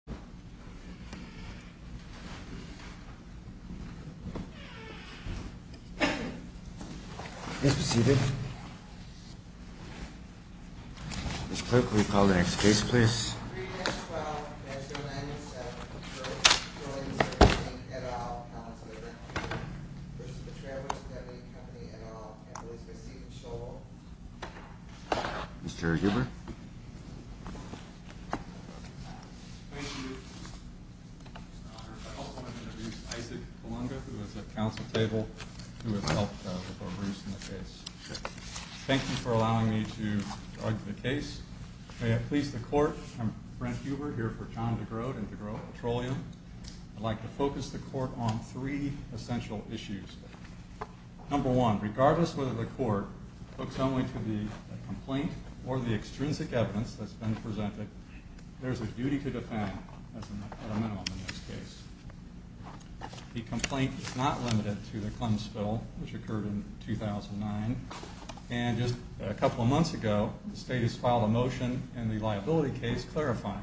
3-12-907-Groate Petroleum Service, Inc. et al., P.A. v. The Travelers Indemnity Company et al., P.A. v. Ms. Stephen Scholl Mr. Huber Thank you, Mr. Honor. I'd also like to introduce Isaac Palunga, who is at Council Table, who has helped with our briefs in the case. Thank you for allowing me to argue the case. May it please the Court, I'm Brent Huber, here for John DeGroote and DeGroote Petroleum. I'd like to focus the Court on three essential issues. Number one, regardless whether the Court looks only to the complaint or the extrinsic evidence that's been presented, there's a duty to defend as a minimum in this case. The complaint is not limited to the Clemson spill, which occurred in 2009, and just a couple of months ago, the State has filed a motion in the liability case clarifying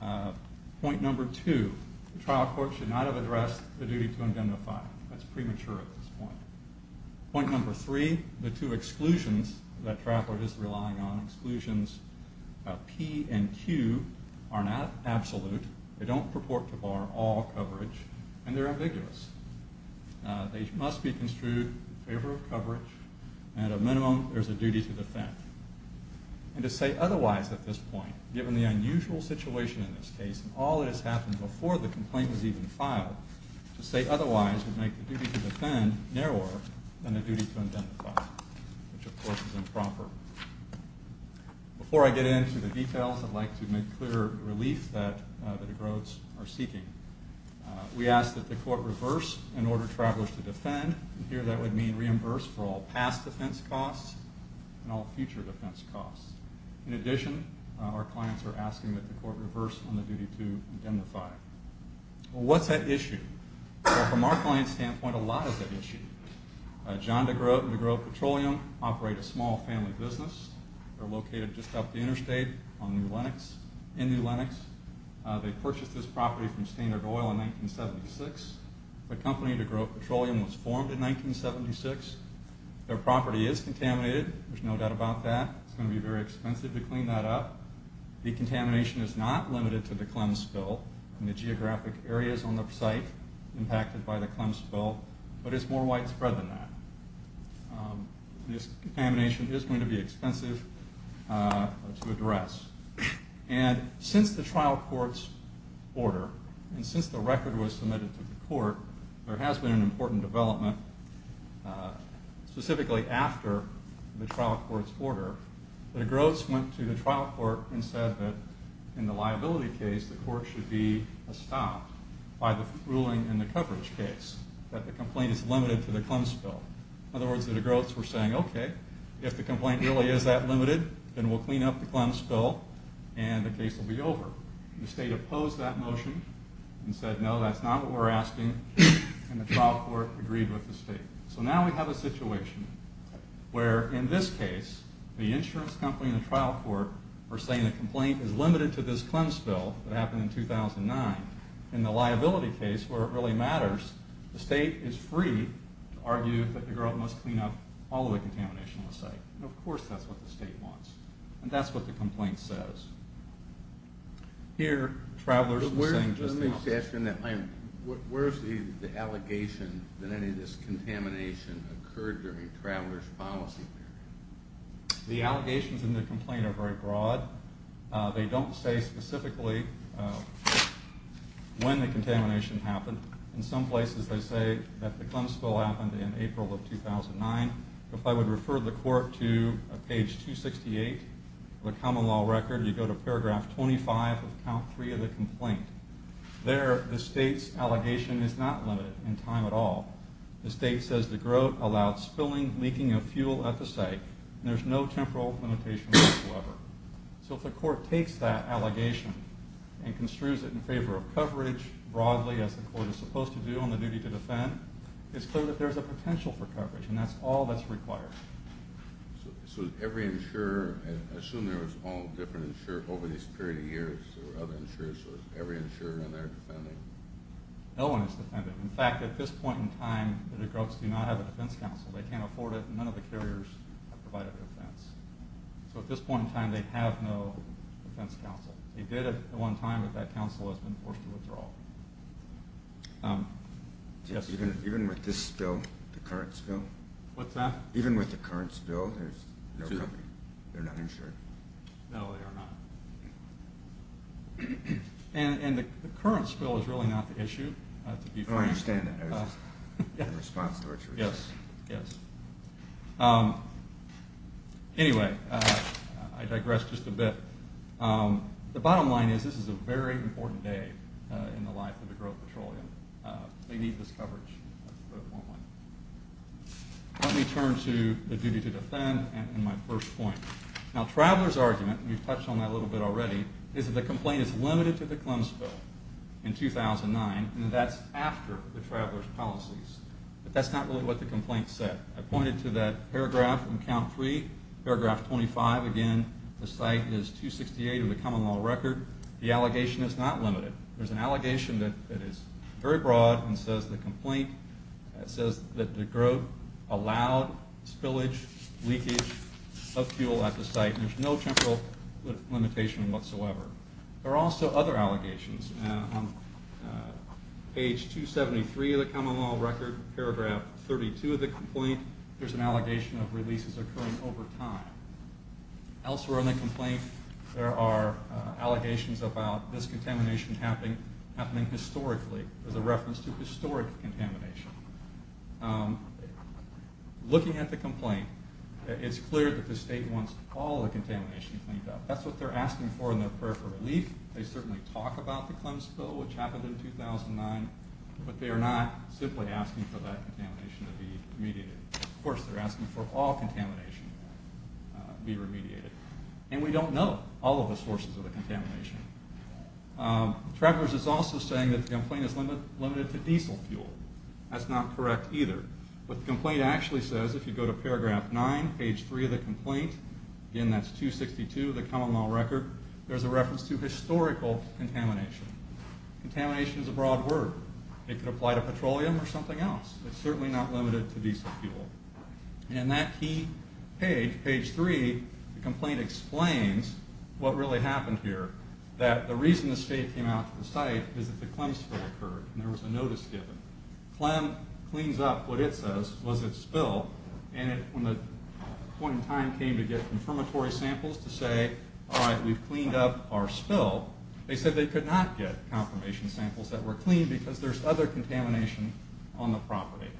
that. Point number two, the trial court should not have addressed the duty to identify. That's premature at this point. Point number three, the two exclusions that Traveler is relying on, exclusions P and Q, are not absolute, they don't purport to bar all coverage, and they're ambiguous. They must be construed in favor of coverage, and at a minimum, there's a duty to defend. And to say otherwise at this point, given the unusual situation in this case and all that has happened before the complaint was even filed, to say otherwise would make the duty to defend narrower than the duty to identify, which of course is improper. Before I get into the details, I'd like to make clear the relief that the DeGrootes are seeking. We ask that the court reverse an order Traveler is to defend, and here that would mean reimburse for all past defense costs and all future defense costs. In addition, our clients are asking that the court reverse on the duty to identify. What's at issue? From our client's standpoint, a lot is at issue. John DeGroote and DeGroote Petroleum operate a small family business. They're located just up the interstate in New Lenox. They purchased this property from Standard Oil in 1976. The company DeGroote Petroleum was formed in 1976. Their property is contaminated. There's no doubt about that. It's going to be very expensive to clean that up. The contamination is not limited to the Clems spill and the geographic areas on the site impacted by the Clems spill, but it's more widespread than that. This contamination is going to be expensive to address. Since the trial court's order and since the record was submitted to the court, there has been an important development specifically after the trial court's order. DeGrootes went to the trial court and said that in the liability case, the court should be stopped by the ruling in the coverage case that the complaint is limited to the Clems spill. In other words, DeGrootes were saying, okay, if the complaint really is that limited, then we'll clean up the Clems spill and the case will be over. The state opposed that motion and said, no, that's not what we're asking, and the trial court agreed with the state. So now we have a situation where in this case, the insurance company and the trial court are saying the complaint is limited to this Clems spill that happened in 2009. In the liability case, where it really matters, the state is free to argue that DeGroote must clean up all of the contamination on the site. Of course that's what the state wants, and that's what the complaint says. Here, travelers are saying just the opposite. Where is the allegation that any of this contamination occurred during the traveler's policy period? The allegations in the complaint are very broad. They don't say specifically when the contamination happened. In some places they say that the Clems spill happened in April of 2009. If I would refer the court to page 268 of the common law record, you go to paragraph 25 of count 3 of the complaint. There, the state's allegation is not limited in time at all. The state says DeGroote allowed spilling, leaking of fuel at the site. There's no temporal limitation whatsoever. So if the court takes that allegation and construes it in favor of coverage, broadly, as the court is supposed to do on the duty to defend, it's clear that there's a potential for coverage, and that's all that's required. So every insurer, I assume there was all different insurers over this period of years. There were other insurers, so is every insurer in there defending? No one is defending. In fact, at this point in time, DeGroote does not have a defense counsel. They can't afford it, and none of the carriers have provided a defense. So at this point in time, they have no defense counsel. They did at one time, but that counsel has been forced to withdraw. Even with this spill, the current spill? What's that? Even with the current spill, there's no coverage? They're not insured? No, they are not. And the current spill is really not the issue. Oh, I understand that. Yes, yes. Anyway, I digress just a bit. The bottom line is this is a very important day in the life of DeGroote Petroleum. They need this coverage. Let me turn to the duty to defend and my first point. Now, Traveler's argument, and we've touched on that a little bit already, is that the complaint is limited to the Clemson spill in 2009, and that's after the Traveler's policies. But that's not really what the complaint said. I pointed to that paragraph in count three, paragraph 25. Again, the site is 268 of the common law record. The allegation is not limited. There's an allegation that is very broad and says the complaint says that DeGroote allowed spillage, leakage of fuel at the site. There's no temporal limitation whatsoever. There are also other allegations. Page 273 of the common law record, paragraph 32 of the complaint, there's an allegation of releases occurring over time. Elsewhere in the complaint, there are allegations about this contamination happening historically as a reference to historic contamination. Looking at the complaint, it's clear that the state wants all the contamination cleaned up. That's what they're asking for in their prayer for relief. They certainly talk about the Clemson spill, which happened in 2009, but they are not simply asking for that contamination to be remediated. Of course, they're asking for all contamination to be remediated, and we don't know all of the sources of the contamination. Traveler's is also saying that the complaint is limited to diesel fuel. That's not correct either. What the complaint actually says, if you go to paragraph nine, page three of the complaint, again, that's 262 of the common law record, there's a reference to historical contamination. Contamination is a broad word. It could apply to petroleum or something else. It's certainly not limited to diesel fuel. In that key page, page three, the complaint explains what really happened here, that the reason the state came out to the site is that the Clemson spill occurred, and there was a notice given. Clem cleans up what it says was a spill, and when the point in time came to get confirmatory samples to say, all right, we've cleaned up our spill, they said they could not get confirmation samples that were clean because there's other contamination on the property.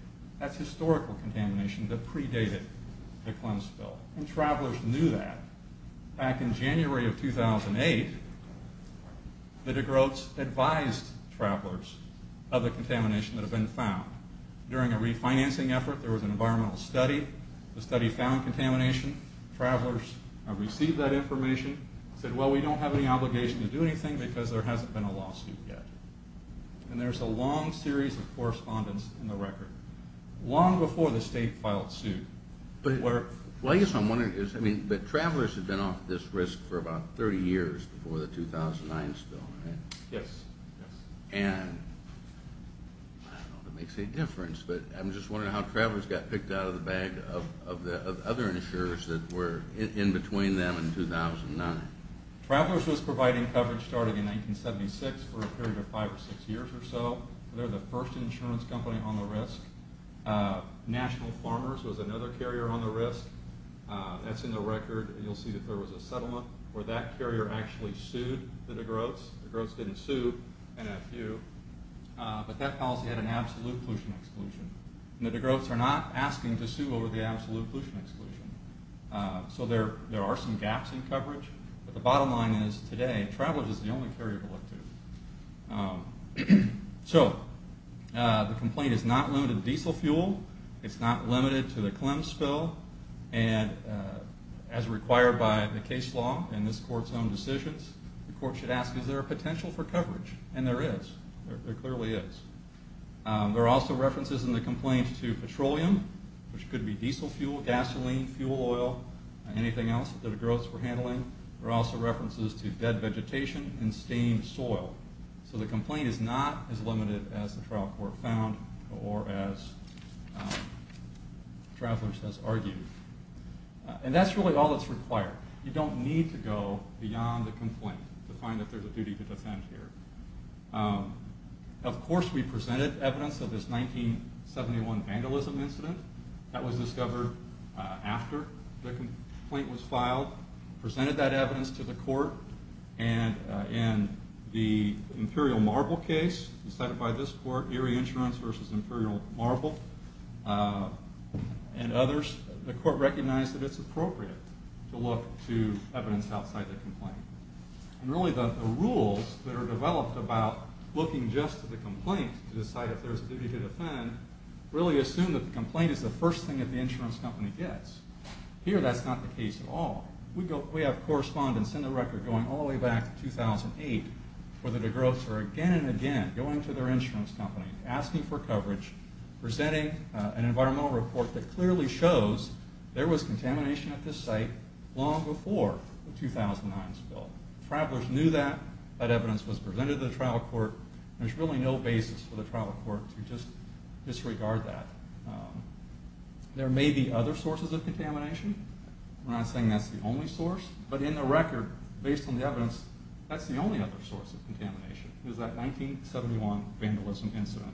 That's historical contamination that predated the Clemson spill, and travelers knew that. Back in January of 2008, the de Groots advised travelers of the contamination that had been found. During a refinancing effort, there was an environmental study. The study found contamination. Travelers received that information, said, well, we don't have any obligation to do anything because there hasn't been a lawsuit yet. And there's a long series of correspondence in the record, long before the state filed suit. But I guess what I'm wondering is, I mean, travelers had been off this risk for about 30 years before the 2009 spill, right? Yes, yes. And I don't know if it makes any difference, but I'm just wondering how travelers got picked out of the bag of other insurers that were in between them in 2009. Travelers was providing coverage starting in 1976 for a period of five or six years or so. They're the first insurance company on the risk. National Farmers was another carrier on the risk. That's in the record. You'll see that there was a settlement where that carrier actually sued the de Groots. The de Groots didn't sue NFU. But that policy had an absolute pollution exclusion. And the de Groots are not asking to sue over the absolute pollution exclusion. So there are some gaps in coverage. But the bottom line is, today, travelers is the only carrier to look to. So the complaint is not limited to diesel fuel. It's not limited to the Clems spill. And as required by the case law in this court's own decisions, the court should ask, is there a potential for coverage? And there is. There clearly is. There are also references in the complaint to petroleum, which could be diesel fuel, gasoline, fuel oil, anything else that de Groots were handling. There are also references to dead vegetation and stained soil. So the complaint is not as limited as the trial court found or as travelers has argued. And that's really all that's required. You don't need to go beyond the complaint to find that there's a duty to defend here. Of course, we presented evidence of this 1971 vandalism incident. That was discovered after the complaint was filed. Presented that evidence to the court. And in the Imperial Marble case decided by this court, Erie Insurance versus Imperial Marble, and others, the court recognized that it's appropriate to look to evidence outside the complaint. And really the rules that are developed about looking just to the complaint to decide if there's a duty to defend really assume that the complaint is the first thing that the insurance company gets. Here, that's not the case at all. We have correspondents in the record going all the way back to 2008 where the de Groots are again and again going to their insurance company, asking for coverage, presenting an environmental report that clearly shows there was contamination at this site long before the 2009 spill. Travelers knew that. That evidence was presented to the trial court. There's really no basis for the trial court to just disregard that. There may be other sources of contamination. We're not saying that's the only source. But in the record, based on the evidence, that's the only other source of contamination is that 1971 vandalism incident.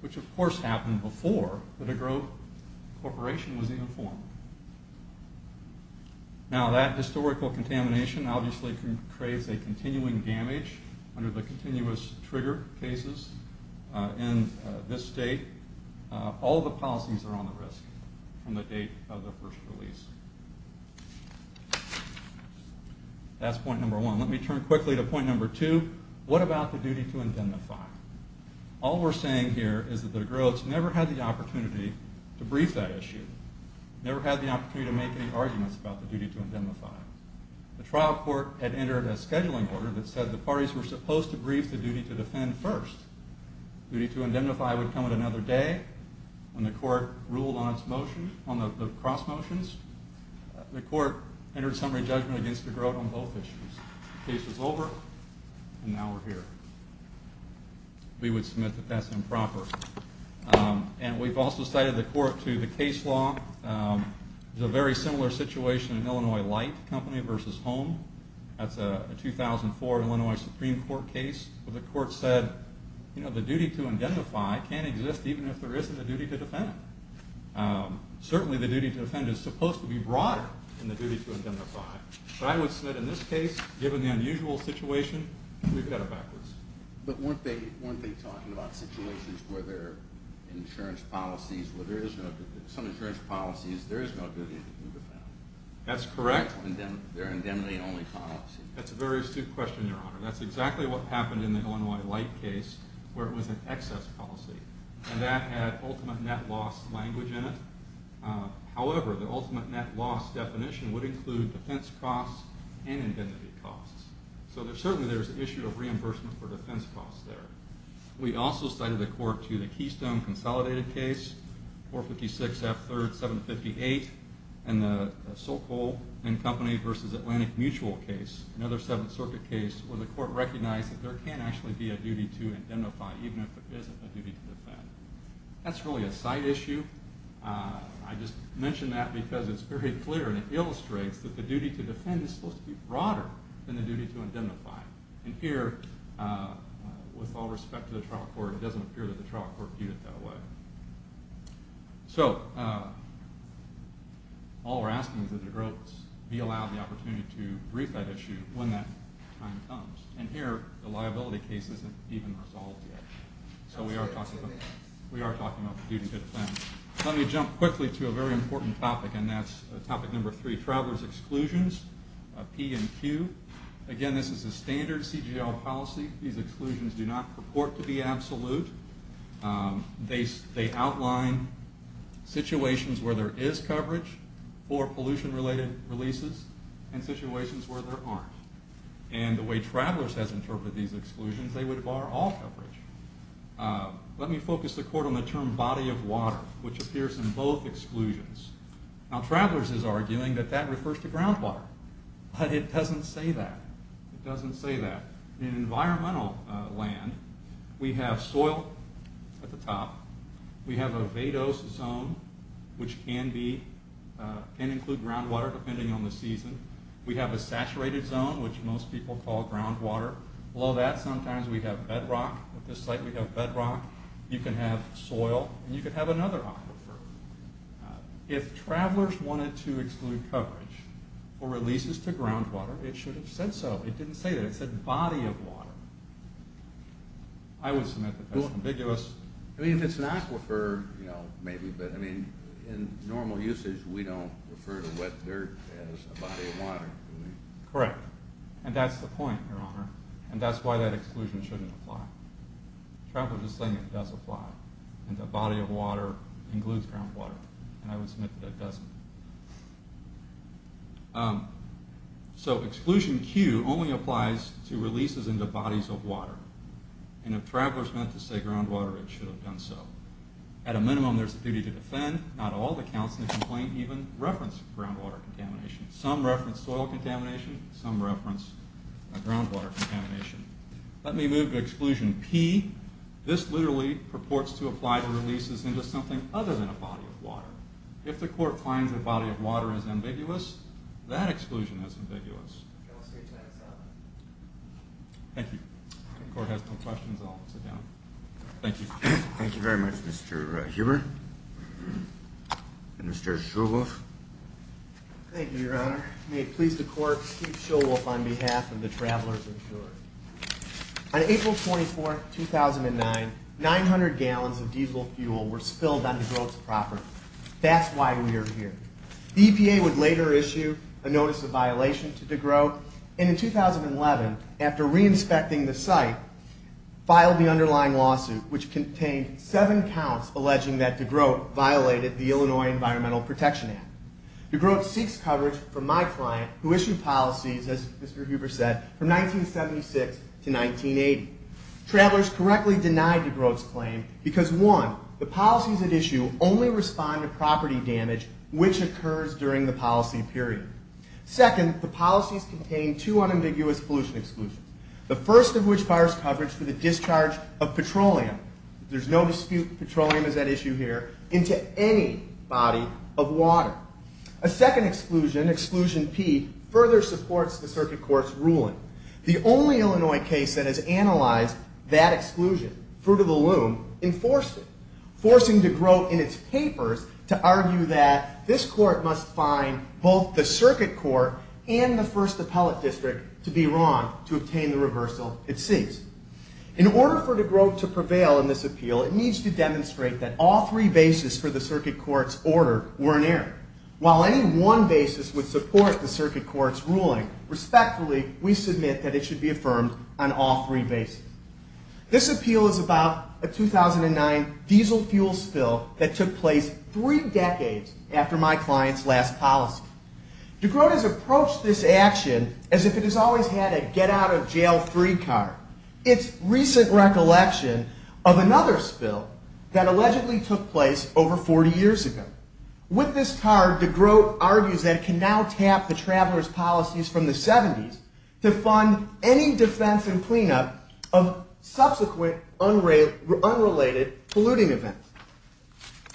Which, of course, happened before the de Groot Corporation was even formed. Now that historical contamination obviously creates a continuing damage under the continuous trigger cases in this state. All the policies are on the risk from the date of the first release. That's point number one. Let me turn quickly to point number two. What about the duty to indemnify? All we're saying here is that the de Groots never had the opportunity to brief that issue. Never had the opportunity to make any arguments about the duty to indemnify. The trial court had entered a scheduling order that said the parties were supposed to brief the duty to defend first. Duty to indemnify would come at another day when the court ruled on the cross motions. The court entered summary judgment against de Groot on both issues. Case was over, and now we're here. We would submit that that's improper. We've also cited the court to the case law. There's a very similar situation in Illinois Light Company versus Home. That's a 2004 Illinois Supreme Court case where the court said the duty to indemnify can't exist even if there isn't a duty to defend. Certainly the duty to defend is supposed to be broader than the duty to indemnify. I would submit in this case, given the unusual situation, we've got it backwards. But weren't they talking about situations where there are insurance policies where there is some insurance policies, there is no duty to defend? That's correct. They're indemnity-only policies. That's a very astute question, Your Honor. That's exactly what happened in the Illinois Light case where it was an excess policy, and that had ultimate net loss language in it. However, the ultimate net loss definition would include defense costs and indemnity costs. So certainly there's an issue of reimbursement for defense costs there. We also cited the court to the Keystone Consolidated case, 456 F. 3rd, 758, and the Sokol and Company versus Atlantic Mutual case, another Seventh Circuit case, where the court recognized that there can actually be a duty to indemnify even if there isn't a duty to defend. That's really a side issue. I just mention that because it's very clear and it illustrates that the duty to defend is supposed to be broader than the duty to indemnify. And here, with all respect to the trial court, it doesn't appear that the trial court viewed it that way. So all we're asking is that the grotes be allowed the opportunity to brief that issue when that time comes. And here, the liability case isn't even resolved yet. So we are talking about the duty to defend. Let me jump quickly to a very important topic, and that's topic number three, travelers' exclusions, P and Q. Again, this is a standard CGL policy. These exclusions do not purport to be absolute. They outline situations where there is coverage for pollution-related releases and situations where there aren't. And the way travelers has interpreted these exclusions, they would bar all coverage. Let me focus the court on the term body of water, which appears in both exclusions. Now, travelers is arguing that that refers to groundwater. But it doesn't say that. It doesn't say that. In environmental land, we have soil at the top. We have a vadose zone, which can include groundwater depending on the season. We have a saturated zone, which most people call groundwater. Below that, sometimes we have bedrock. At this site, we have bedrock. You can have soil, and you can have another aquifer. If travelers wanted to exclude coverage for releases to groundwater, it should have said so. It didn't say that. It said body of water. I would submit that that's ambiguous. I mean, if it's an aquifer, you know, maybe. But, I mean, in normal usage, we don't refer to wet dirt as a body of water, do we? Correct. And that's the point, Your Honor. And that's why that exclusion shouldn't apply. Travelers are saying it does apply. And the body of water includes groundwater. And I would submit that it doesn't. So, exclusion Q only applies to releases into bodies of water. And if travelers meant to say groundwater, it should have done so. At a minimum, there's a duty to defend. Not all the counts in the complaint even reference groundwater contamination. Some reference soil contamination. Some reference groundwater contamination. Let me move to exclusion P. This literally purports to apply to releases into something other than a body of water. If the court finds a body of water is ambiguous, that exclusion is ambiguous. Thank you. If the court has no questions, I'll sit down. Thank you. Thank you very much, Mr. Huber. Mr. Shulwof. Thank you, Your Honor. May it please the court, on behalf of the travelers insured. On April 24, 2009, 900 gallons of diesel fuel were spilled on DeGroote's property. That's why we are here. The EPA would later issue a notice of violation to DeGroote. And in 2011, after re-inspecting the site, filed the underlying lawsuit, which contained seven counts alleging that DeGroote violated the Illinois Environmental Protection Act. DeGroote seeks coverage from my client, who issued policies, as Mr. Huber said, from 1976 to 1980. Travelers correctly denied DeGroote's claim because, one, the policies at issue only respond to property damage, which occurs during the policy period. Second, the policies contain two unambiguous pollution exclusions, the first of which fires coverage for the discharge of petroleum, there's no dispute petroleum is at issue here, into any body of water. A second exclusion, Exclusion P, further supports the Circuit Court's ruling. The only Illinois case that has analyzed that exclusion, Fruit of the Loom, enforced it, forcing DeGroote in its papers to argue that this court must find both the Circuit Court and the First Appellate District to be wrong to obtain the reversal it seeks. In order for DeGroote to prevail in this appeal, it needs to demonstrate that all three bases for the Circuit Court's order were in error. While any one basis would support the Circuit Court's ruling, respectfully, we submit that it should be affirmed on all three bases. This appeal is about a 2009 diesel fuel spill that took place three decades after my client's last policy. DeGroote has approached this action as if it has always had a get-out-of-jail-free card. It's recent recollection of another spill that allegedly took place over 40 years ago. With this card, DeGroote argues that it can now tap the traveler's policies from the 70s to fund any defense and cleanup of subsequent unrelated polluting events.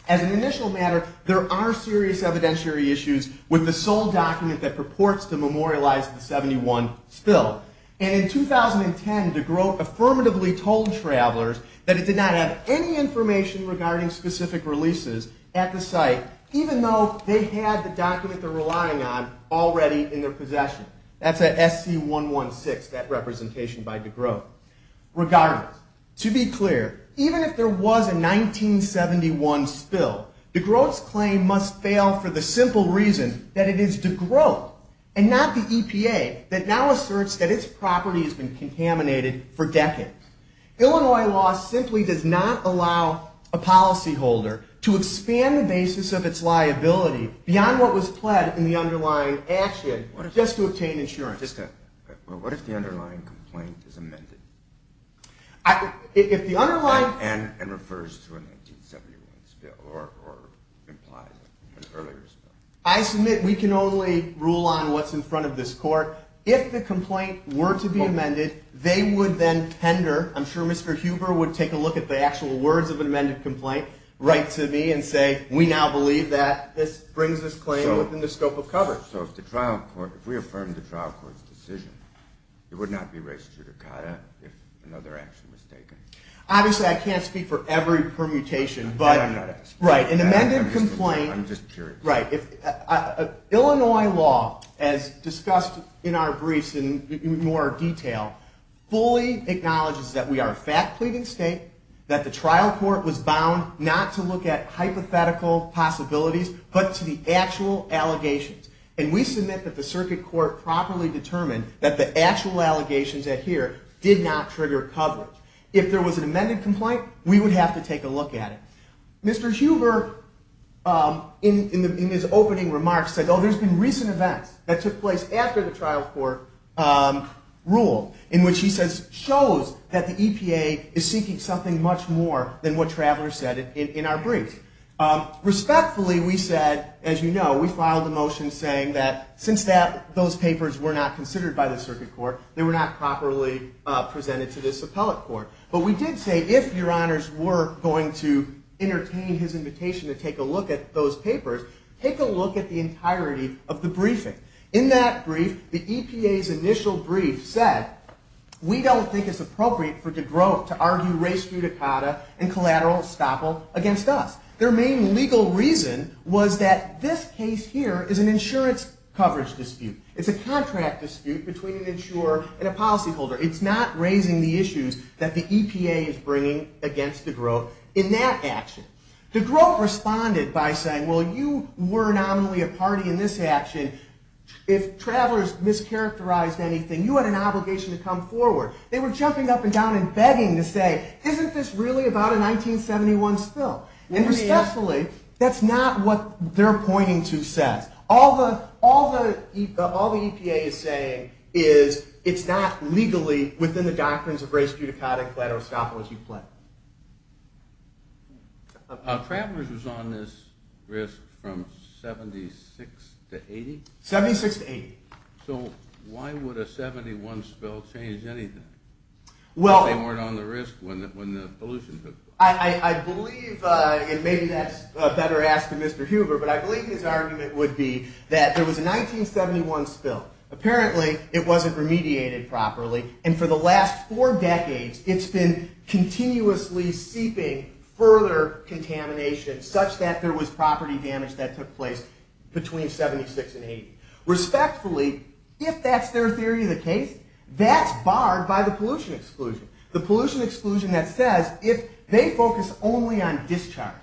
As an initial matter, there are serious evidentiary issues with the sole document that purports to memorialize the 71 spill. And in 2010, DeGroote affirmatively told travelers that it did not have any information regarding specific releases at the site, even though they had the document they're relying on already in their possession. That's at SC116, that representation by DeGroote. Regardless, to be clear, even if there was a 1971 spill, DeGroote's claim must fail for the simple reason that it is DeGroote and not the EPA that now asserts that its property has been contaminated for decades. Illinois law simply does not allow a policyholder to expand the basis of its liability beyond what was pled in the underlying action just to obtain insurance. What if the underlying complaint is amended? If the underlying... And refers to a 1971 spill or implies an earlier spill. I submit we can only rule on what's in front of this court. If the complaint were to be amended, they would then tender... I'm sure Mr. Huber would take a look at the actual words of an amended complaint, write to me and say, we now believe that this brings this claim within the scope of coverage. So if we affirm the trial court's decision, it would not be res judicata if another action was taken? Obviously, I can't speak for every permutation, but... Illinois law, as discussed in our briefs in more detail, fully acknowledges that we are a fact-pleading state, that the trial court was bound not to look at hypothetical possibilities but to the actual allegations. And we submit that the circuit court properly determined that the actual allegations here did not trigger coverage. If there was an amended complaint, we would have to take a look at it. Mr. Huber, in his opening remarks, said, oh, there's been recent events that took place after the trial court ruled, in which he says... shows that the EPA is seeking something much more than what Traveler said in our brief. Respectfully, we said, as you know, we filed a motion saying that, since those papers were not considered by the circuit court, they were not properly presented to this appellate court. But we did say, if your honors were going to entertain his invitation to take a look at those papers, take a look at the entirety of the briefing. In that brief, the EPA's initial brief said, we don't think it's appropriate for DeGroote to argue res judicata and collateral estoppel against us. Their main legal reason was that this case here is an insurance coverage dispute. It's a contract dispute between an insurer and a policyholder. It's not raising the issues that the EPA is bringing against DeGroote in that action. DeGroote responded by saying, well, you were nominally a party in this action. If Traveler's mischaracterized anything, you had an obligation to come forward. They were jumping up and down and begging to say, isn't this really about a 1971 spill? And respectfully, that's not what they're pointing to says. All the EPA is saying is, it's not legally within the doctrines of res judicata and collateral estoppel as you claim. Traveler's was on this risk from 76 to 80? 76 to 80. So why would a 71 spill change anything? Well... If they weren't on the risk when the pollution took place. I believe, and maybe that's a better ask to Mr. Huber, but I believe his argument would be that there was a 1971 spill. Apparently, it wasn't remediated properly. And for the last four decades, it's been continuously seeping further contamination such that there was property damage that took place between 76 and 80. Respectfully, if that's their theory of the case, that's barred by the pollution exclusion. The pollution exclusion that says, if they focus only on discharge,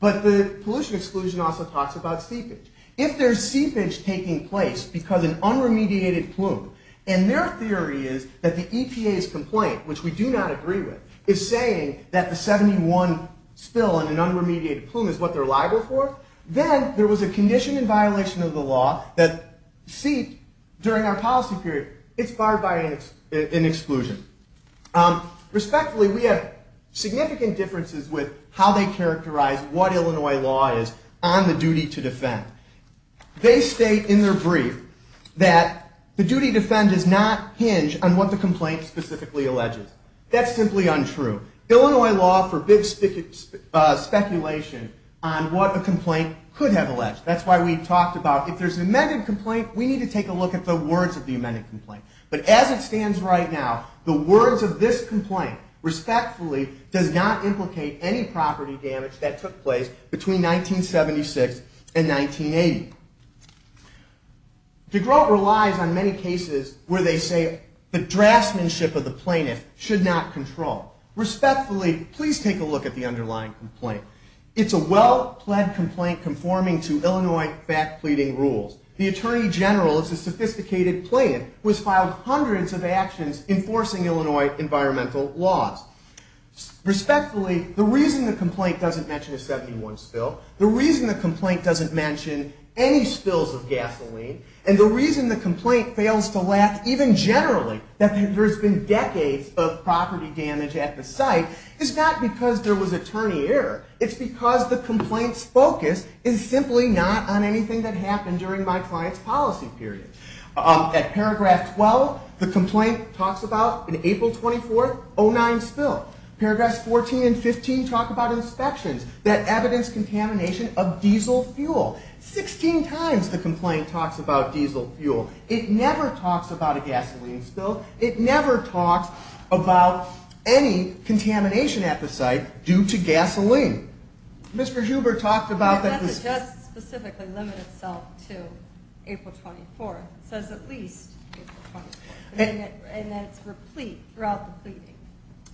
but the pollution exclusion also talks about seepage. If there's seepage taking place because an unremediated plume, and their theory is that the EPA's complaint, which we do not agree with, is saying that the 71 spill and an unremediated plume is what they're liable for, then there was a condition in violation of the law that seeped during our policy period. It's barred by an exclusion. Respectfully, we have significant differences with how they characterize what Illinois law is on the duty to defend. They state in their brief that the duty to defend does not hinge on what the complaint specifically alleges. That's simply untrue. Illinois law forbids speculation on what a complaint could have alleged. That's why we talked about, if there's an amended complaint, we need to take a look at the words of the amended complaint. But as it stands right now, the words of this complaint, respectfully, does not implicate any property damage that took place between 1976 and 1980. DeGroote relies on many cases where they say the draftsmanship of the plaintiff should not control. Respectfully, please take a look at the underlying complaint. It's a well-pled complaint conforming to Illinois fact-pleading rules. The attorney general is a sophisticated plaintiff who has filed hundreds of actions enforcing Illinois environmental laws. Respectfully, the reason the complaint doesn't mention a 71 spill, the reason the complaint doesn't mention any spills of gasoline, and the reason the complaint fails to lack, even generally, that there's been decades of property damage at the site, is not because there was attorney error. It's because the complaint's focus is simply not on anything that happened during my client's policy period. At paragraph 12, the complaint talks about an April 24th, 09 spill. Paragraphs 14 and 15 talk about inspections that evidence contamination of diesel fuel. 16 times the complaint talks about diesel fuel. It never talks about a gasoline spill. It never talks about any contamination at the site due to gasoline. Mr. Huber talked about that... It doesn't just specifically limit itself to April 24th. It says at least April 24th. And then it's for a plea throughout the pleading.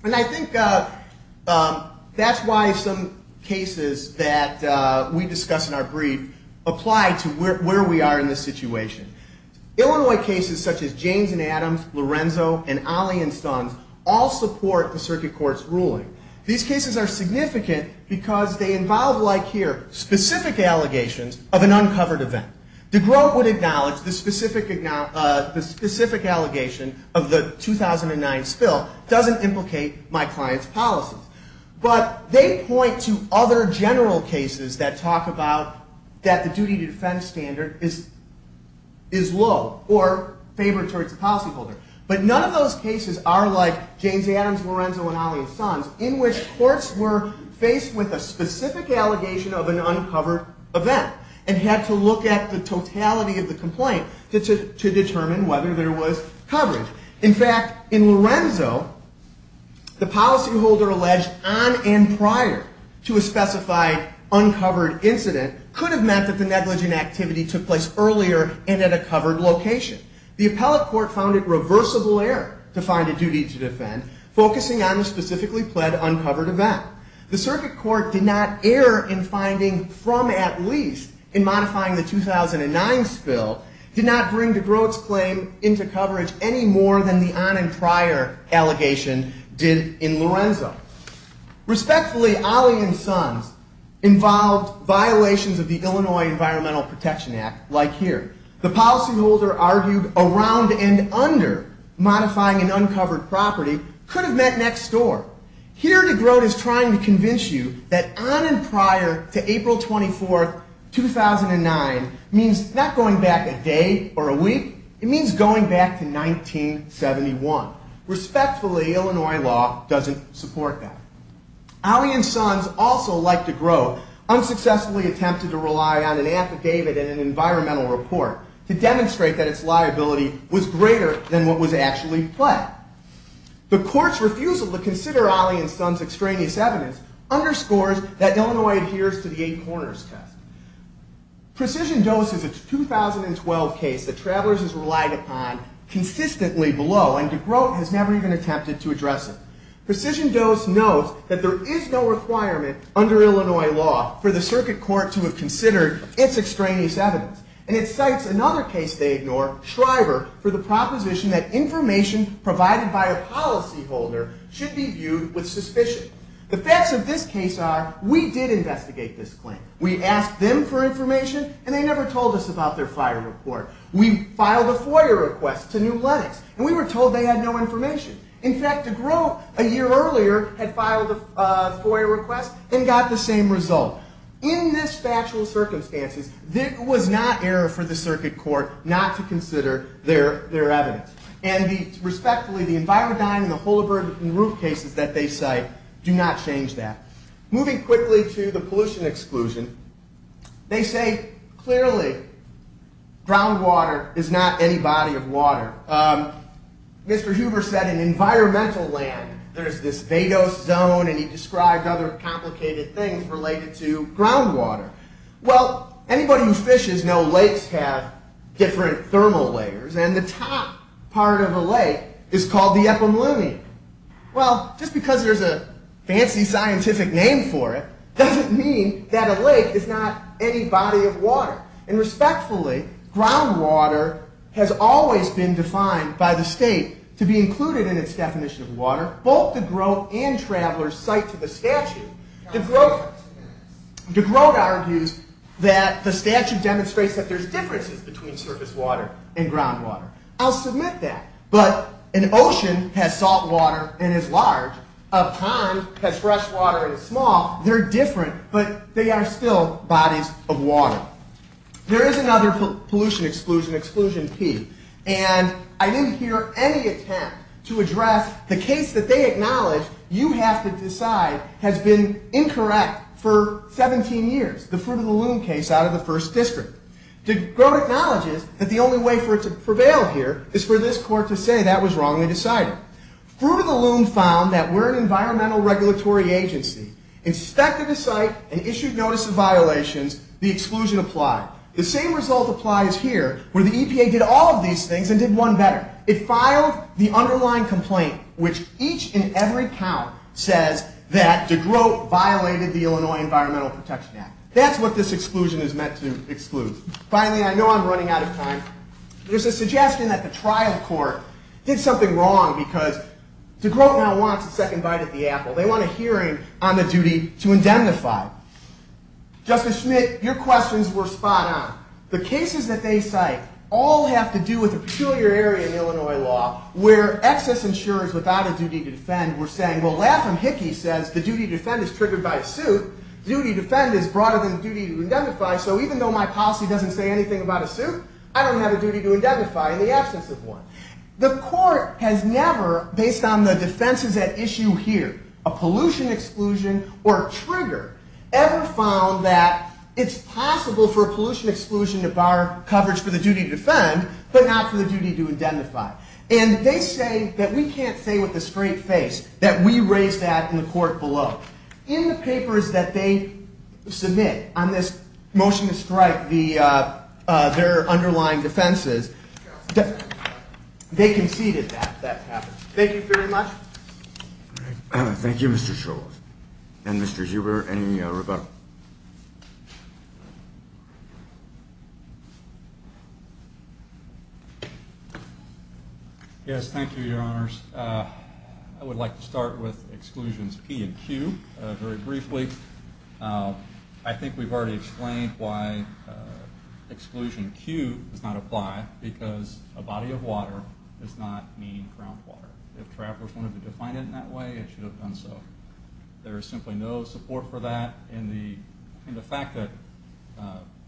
And I think that's why some cases that we discuss in our brief apply to where we are in this situation. Illinois cases such as James and Adams, Lorenzo, and Ollie and Stunz all support the circuit court's ruling. These cases are significant because they involve, like here, specific allegations of an uncovered event. DeGroote would acknowledge the specific allegations of the 2009 spill doesn't implicate my client's policies. But they point to other general cases that talk about that the duty to defense standard is low or favored towards the policyholder. But none of those cases are like James Adams, Lorenzo, and Ollie and Stunz in which courts were faced with a specific allegation of an uncovered event and had to look at the totality of the complaint to determine whether there was coverage. In fact, in Lorenzo, the policyholder alleged on and prior to a specified uncovered incident could have meant that the negligent activity took place earlier and at a covered location. The appellate court found it reversible error to find a duty to defend focusing on the specifically pled uncovered event. The circuit court did not err in finding from at least in modifying the 2009 spill did not bring DeGroote's claim into coverage any more than the on and prior allegation did in Lorenzo. Respectfully, Ollie and Stunz involved violations of the Illinois Environmental Protection Act like here. The policyholder argued around and under modifying an uncovered property could have meant next door. Here, DeGroote is trying to convince you that on and prior to April 24, 2009 means not going back a day or a week. It means going back to 1971. Respectfully, Illinois law doesn't support that. Ollie and Stunz also like DeGroote unsuccessfully attempted to rely on an affidavit and an environmental report to demonstrate that its liability was greater than what was actually pled. The court's refusal to consider Ollie and Stunz's extraneous evidence underscores that Illinois adheres to the eight corners test. Precision Dose is a 2012 case that Travelers has relied upon consistently below and DeGroote has never even attempted to address it. Precision Dose knows that there is no requirement under Illinois law for the circuit court to have considered its extraneous evidence. And it cites another case they ignore, Shriver, for the proposition that information provided by a policyholder should be viewed with suspicion. The facts of this case are we did investigate this claim. We asked them for information and they never told us about their fire report. We filed a FOIA request to New Lenox and we were told they had no information. In fact, DeGroote, a year earlier, had filed a FOIA request and got the same result. In this factual circumstances, it was not error for the circuit court not to consider their evidence. And respectfully, the Envirodyne and the Holabird and Ruth cases that they cite do not change that. Moving quickly to the pollution exclusion, they say, clearly, groundwater is not any body of water. Mr. Huber said in environmental land there is this vadose zone and he described other complicated things related to groundwater. Well, anybody who fishes knows lakes have different thermal layers and the top part of a lake is called the epimelium. Well, just because there's a fancy scientific name for it doesn't mean that a lake is not any body of water. And respectfully, groundwater has always been defined by the state to be included in its definition of water. Both DeGroote and Traveler cite to the statute DeGroote argues that the statute demonstrates that there's differences between surface water and groundwater. I'll submit that. But an ocean has salt water and is large. A pond has fresh water and is small. They're different, but they are still bodies of water. There is another pollution exclusion, exclusion P. And I didn't hear any attempt to address the case that they acknowledge you have to decide has been incorrect for 17 years, the Fruit of the Loom case out of the First District. DeGroote acknowledges that the only way for it to prevail here is for this court to say that was wrongly decided. Fruit of the Loom found that we're an environmental regulatory agency, inspected the site, and issued notice of violations, the exclusion applied. The same result applies here where the EPA did all of these things and did one better. It filed the underlying complaint which each and every count says that DeGroote violated the Illinois Environmental Protection Act. That's what this exclusion is meant to exclude. Finally, I know I'm running out of time. There's a suggestion that the trial court did something wrong because DeGroote now wants a second bite at the apple. They want a hearing on the duty to indemnify. Justice Schmidt, your questions were spot on. The cases that they cite all have to do with a peculiar area in Illinois law where excess insurers without a duty to defend were saying, well, Laugham Hickey says the duty to defend is triggered by a suit. The duty to defend is broader than the duty to indemnify, so even though my policy doesn't say anything about a suit, I don't have a duty to indemnify in the absence of one. The court has never, based on the defenses at issue here, a pollution exclusion or a trigger, ever found that it's possible for a pollution exclusion to bar coverage for the duty to defend, but not for the duty to indemnify. And they say that we can't say with a straight face that we raised that in the court below. In the papers that they submit on this motion to strike their underlying defenses, they conceded that that happened. Thank you very much. Thank you, Mr. Schultz. And Mr. Huber, and Roberto. Yes, thank you, your honors. I would like to start with exclusions P and Q very briefly. I think we've already explained why exclusion Q does not apply, because a body of water does not mean groundwater. If travelers wanted to define it in that way, they should have done so. There is simply no support for that, and the fact that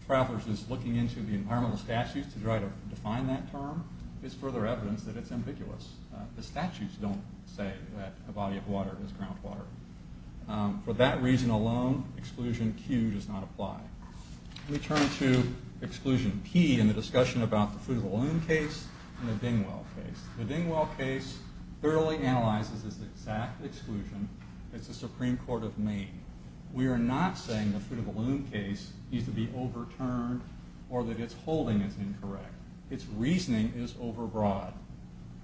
travelers is looking into the environmental statutes to try to define that term, is further evidence that it's ambiguous. The statutes don't say that a body of water is groundwater. For that reason alone, exclusion Q does not apply. We turn to exclusion P in the discussion about the Fruit of the Loom case and the Dingwell case. The Dingwell case thoroughly analyzes this exact exclusion as the Supreme Court of Maine. We are not saying the Fruit of the Loom case needs to be overturned or that its holding is incorrect. Its reasoning is overbroad.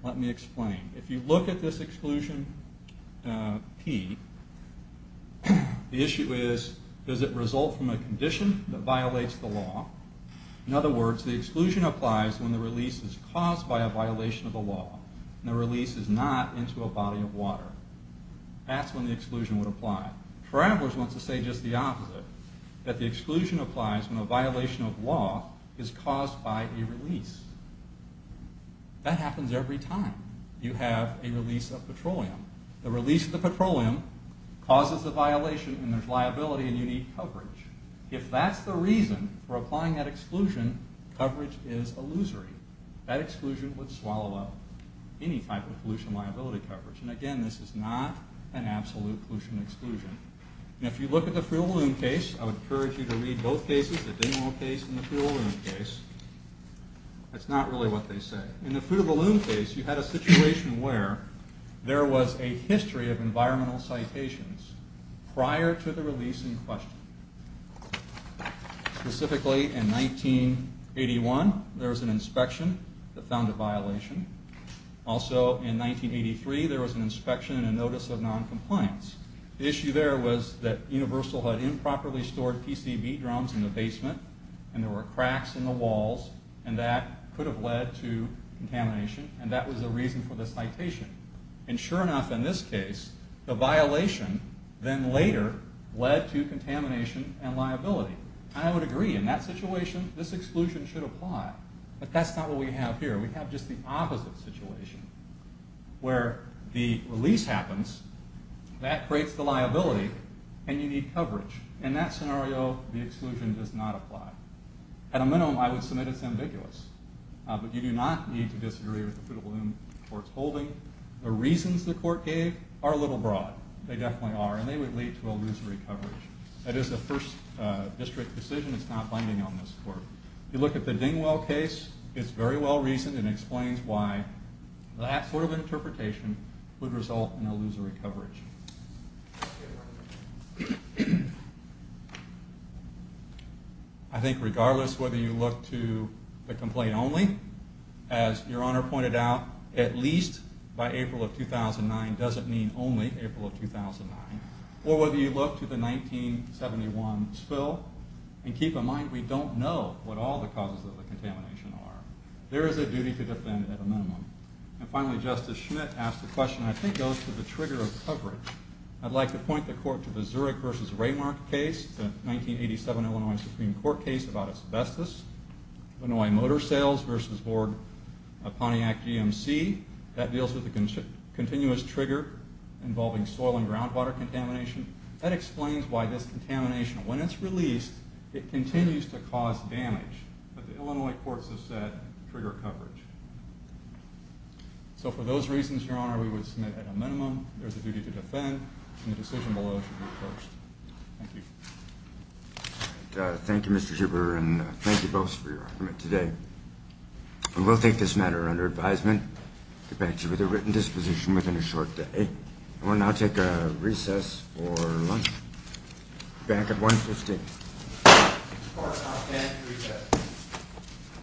Let me explain. If you look at this exclusion P, the issue is does it result from a condition that violates the law? In other words, the exclusion applies when the release is caused by a violation of the law. The release is not into a body of water. That's when the exclusion would apply. Travelers want to say just the opposite, that the exclusion applies when a violation of law is caused by a release. That happens every time you have a release of petroleum. The release of the petroleum causes a violation and there's liability and you need coverage. If that's the reason for applying that exclusion, coverage is illusory. That exclusion would swallow up any type of pollution liability coverage. Again, this is not an absolute pollution exclusion. If you look at the Fruit of the Loom case, I would encourage you to read both cases, the Dingwell case and the Fruit of the Loom case. That's not really what they say. In the Fruit of the Loom case, you had a situation where there was a history of environmental citations prior to the release in question. Specifically, in 1981, there was an inspection that found a violation. Also, in 1983, there was an inspection and a notice of noncompliance. The issue there was that Universal had improperly stored PCB drums in the walls and that could have led to contamination and that was the reason for the citation. Sure enough, in this case, the violation then later led to contamination and liability. I would agree. In that situation, this exclusion should apply. But that's not what we have here. We have just the opposite situation where the release happens, that creates the liability, and you need coverage. In that scenario, the exclusion does not mean it's ambiguous. You do not need to disagree with the Fruit of the Loom court's holding. The reasons the court gave are a little broad. They definitely are and they would lead to illusory coverage. That is the first district decision. It's not binding on this court. If you look at the Dingwell case, it's very well reasoned and explains why that sort of interpretation would result in illusory coverage. I think regardless whether you look to the complaint only, as your Honor pointed out, at least by April of 2009 doesn't mean only April of 2009. Or whether you look to the 1971 spill, and keep in mind, we don't know what all the causes of the contamination are. There is a duty to defend at a minimum. And finally, Justice Schmidt asked a question I think goes to the trigger of coverage. I'd like to point the court to the Zurich v. Raymark case, the 1987 Illinois Supreme Court case about asbestos. Illinois Motor Sales v. Board of Pontiac GMC. That deals with the continuous trigger involving soil and groundwater contamination. That explains why this contamination, when it's released, But the Illinois courts have said trigger coverage. So for those reasons, Your Honor, we would submit at a minimum, there's a duty to defend, and the decision below should be approached. Thank you. Thank you, Mr. Schubert, and thank you both for your argument today. We will take this matter under advisement. The bank should be at a written disposition within a short day. I will now take a recess for lunch. Bank at 150. Court is now at 10 to recess.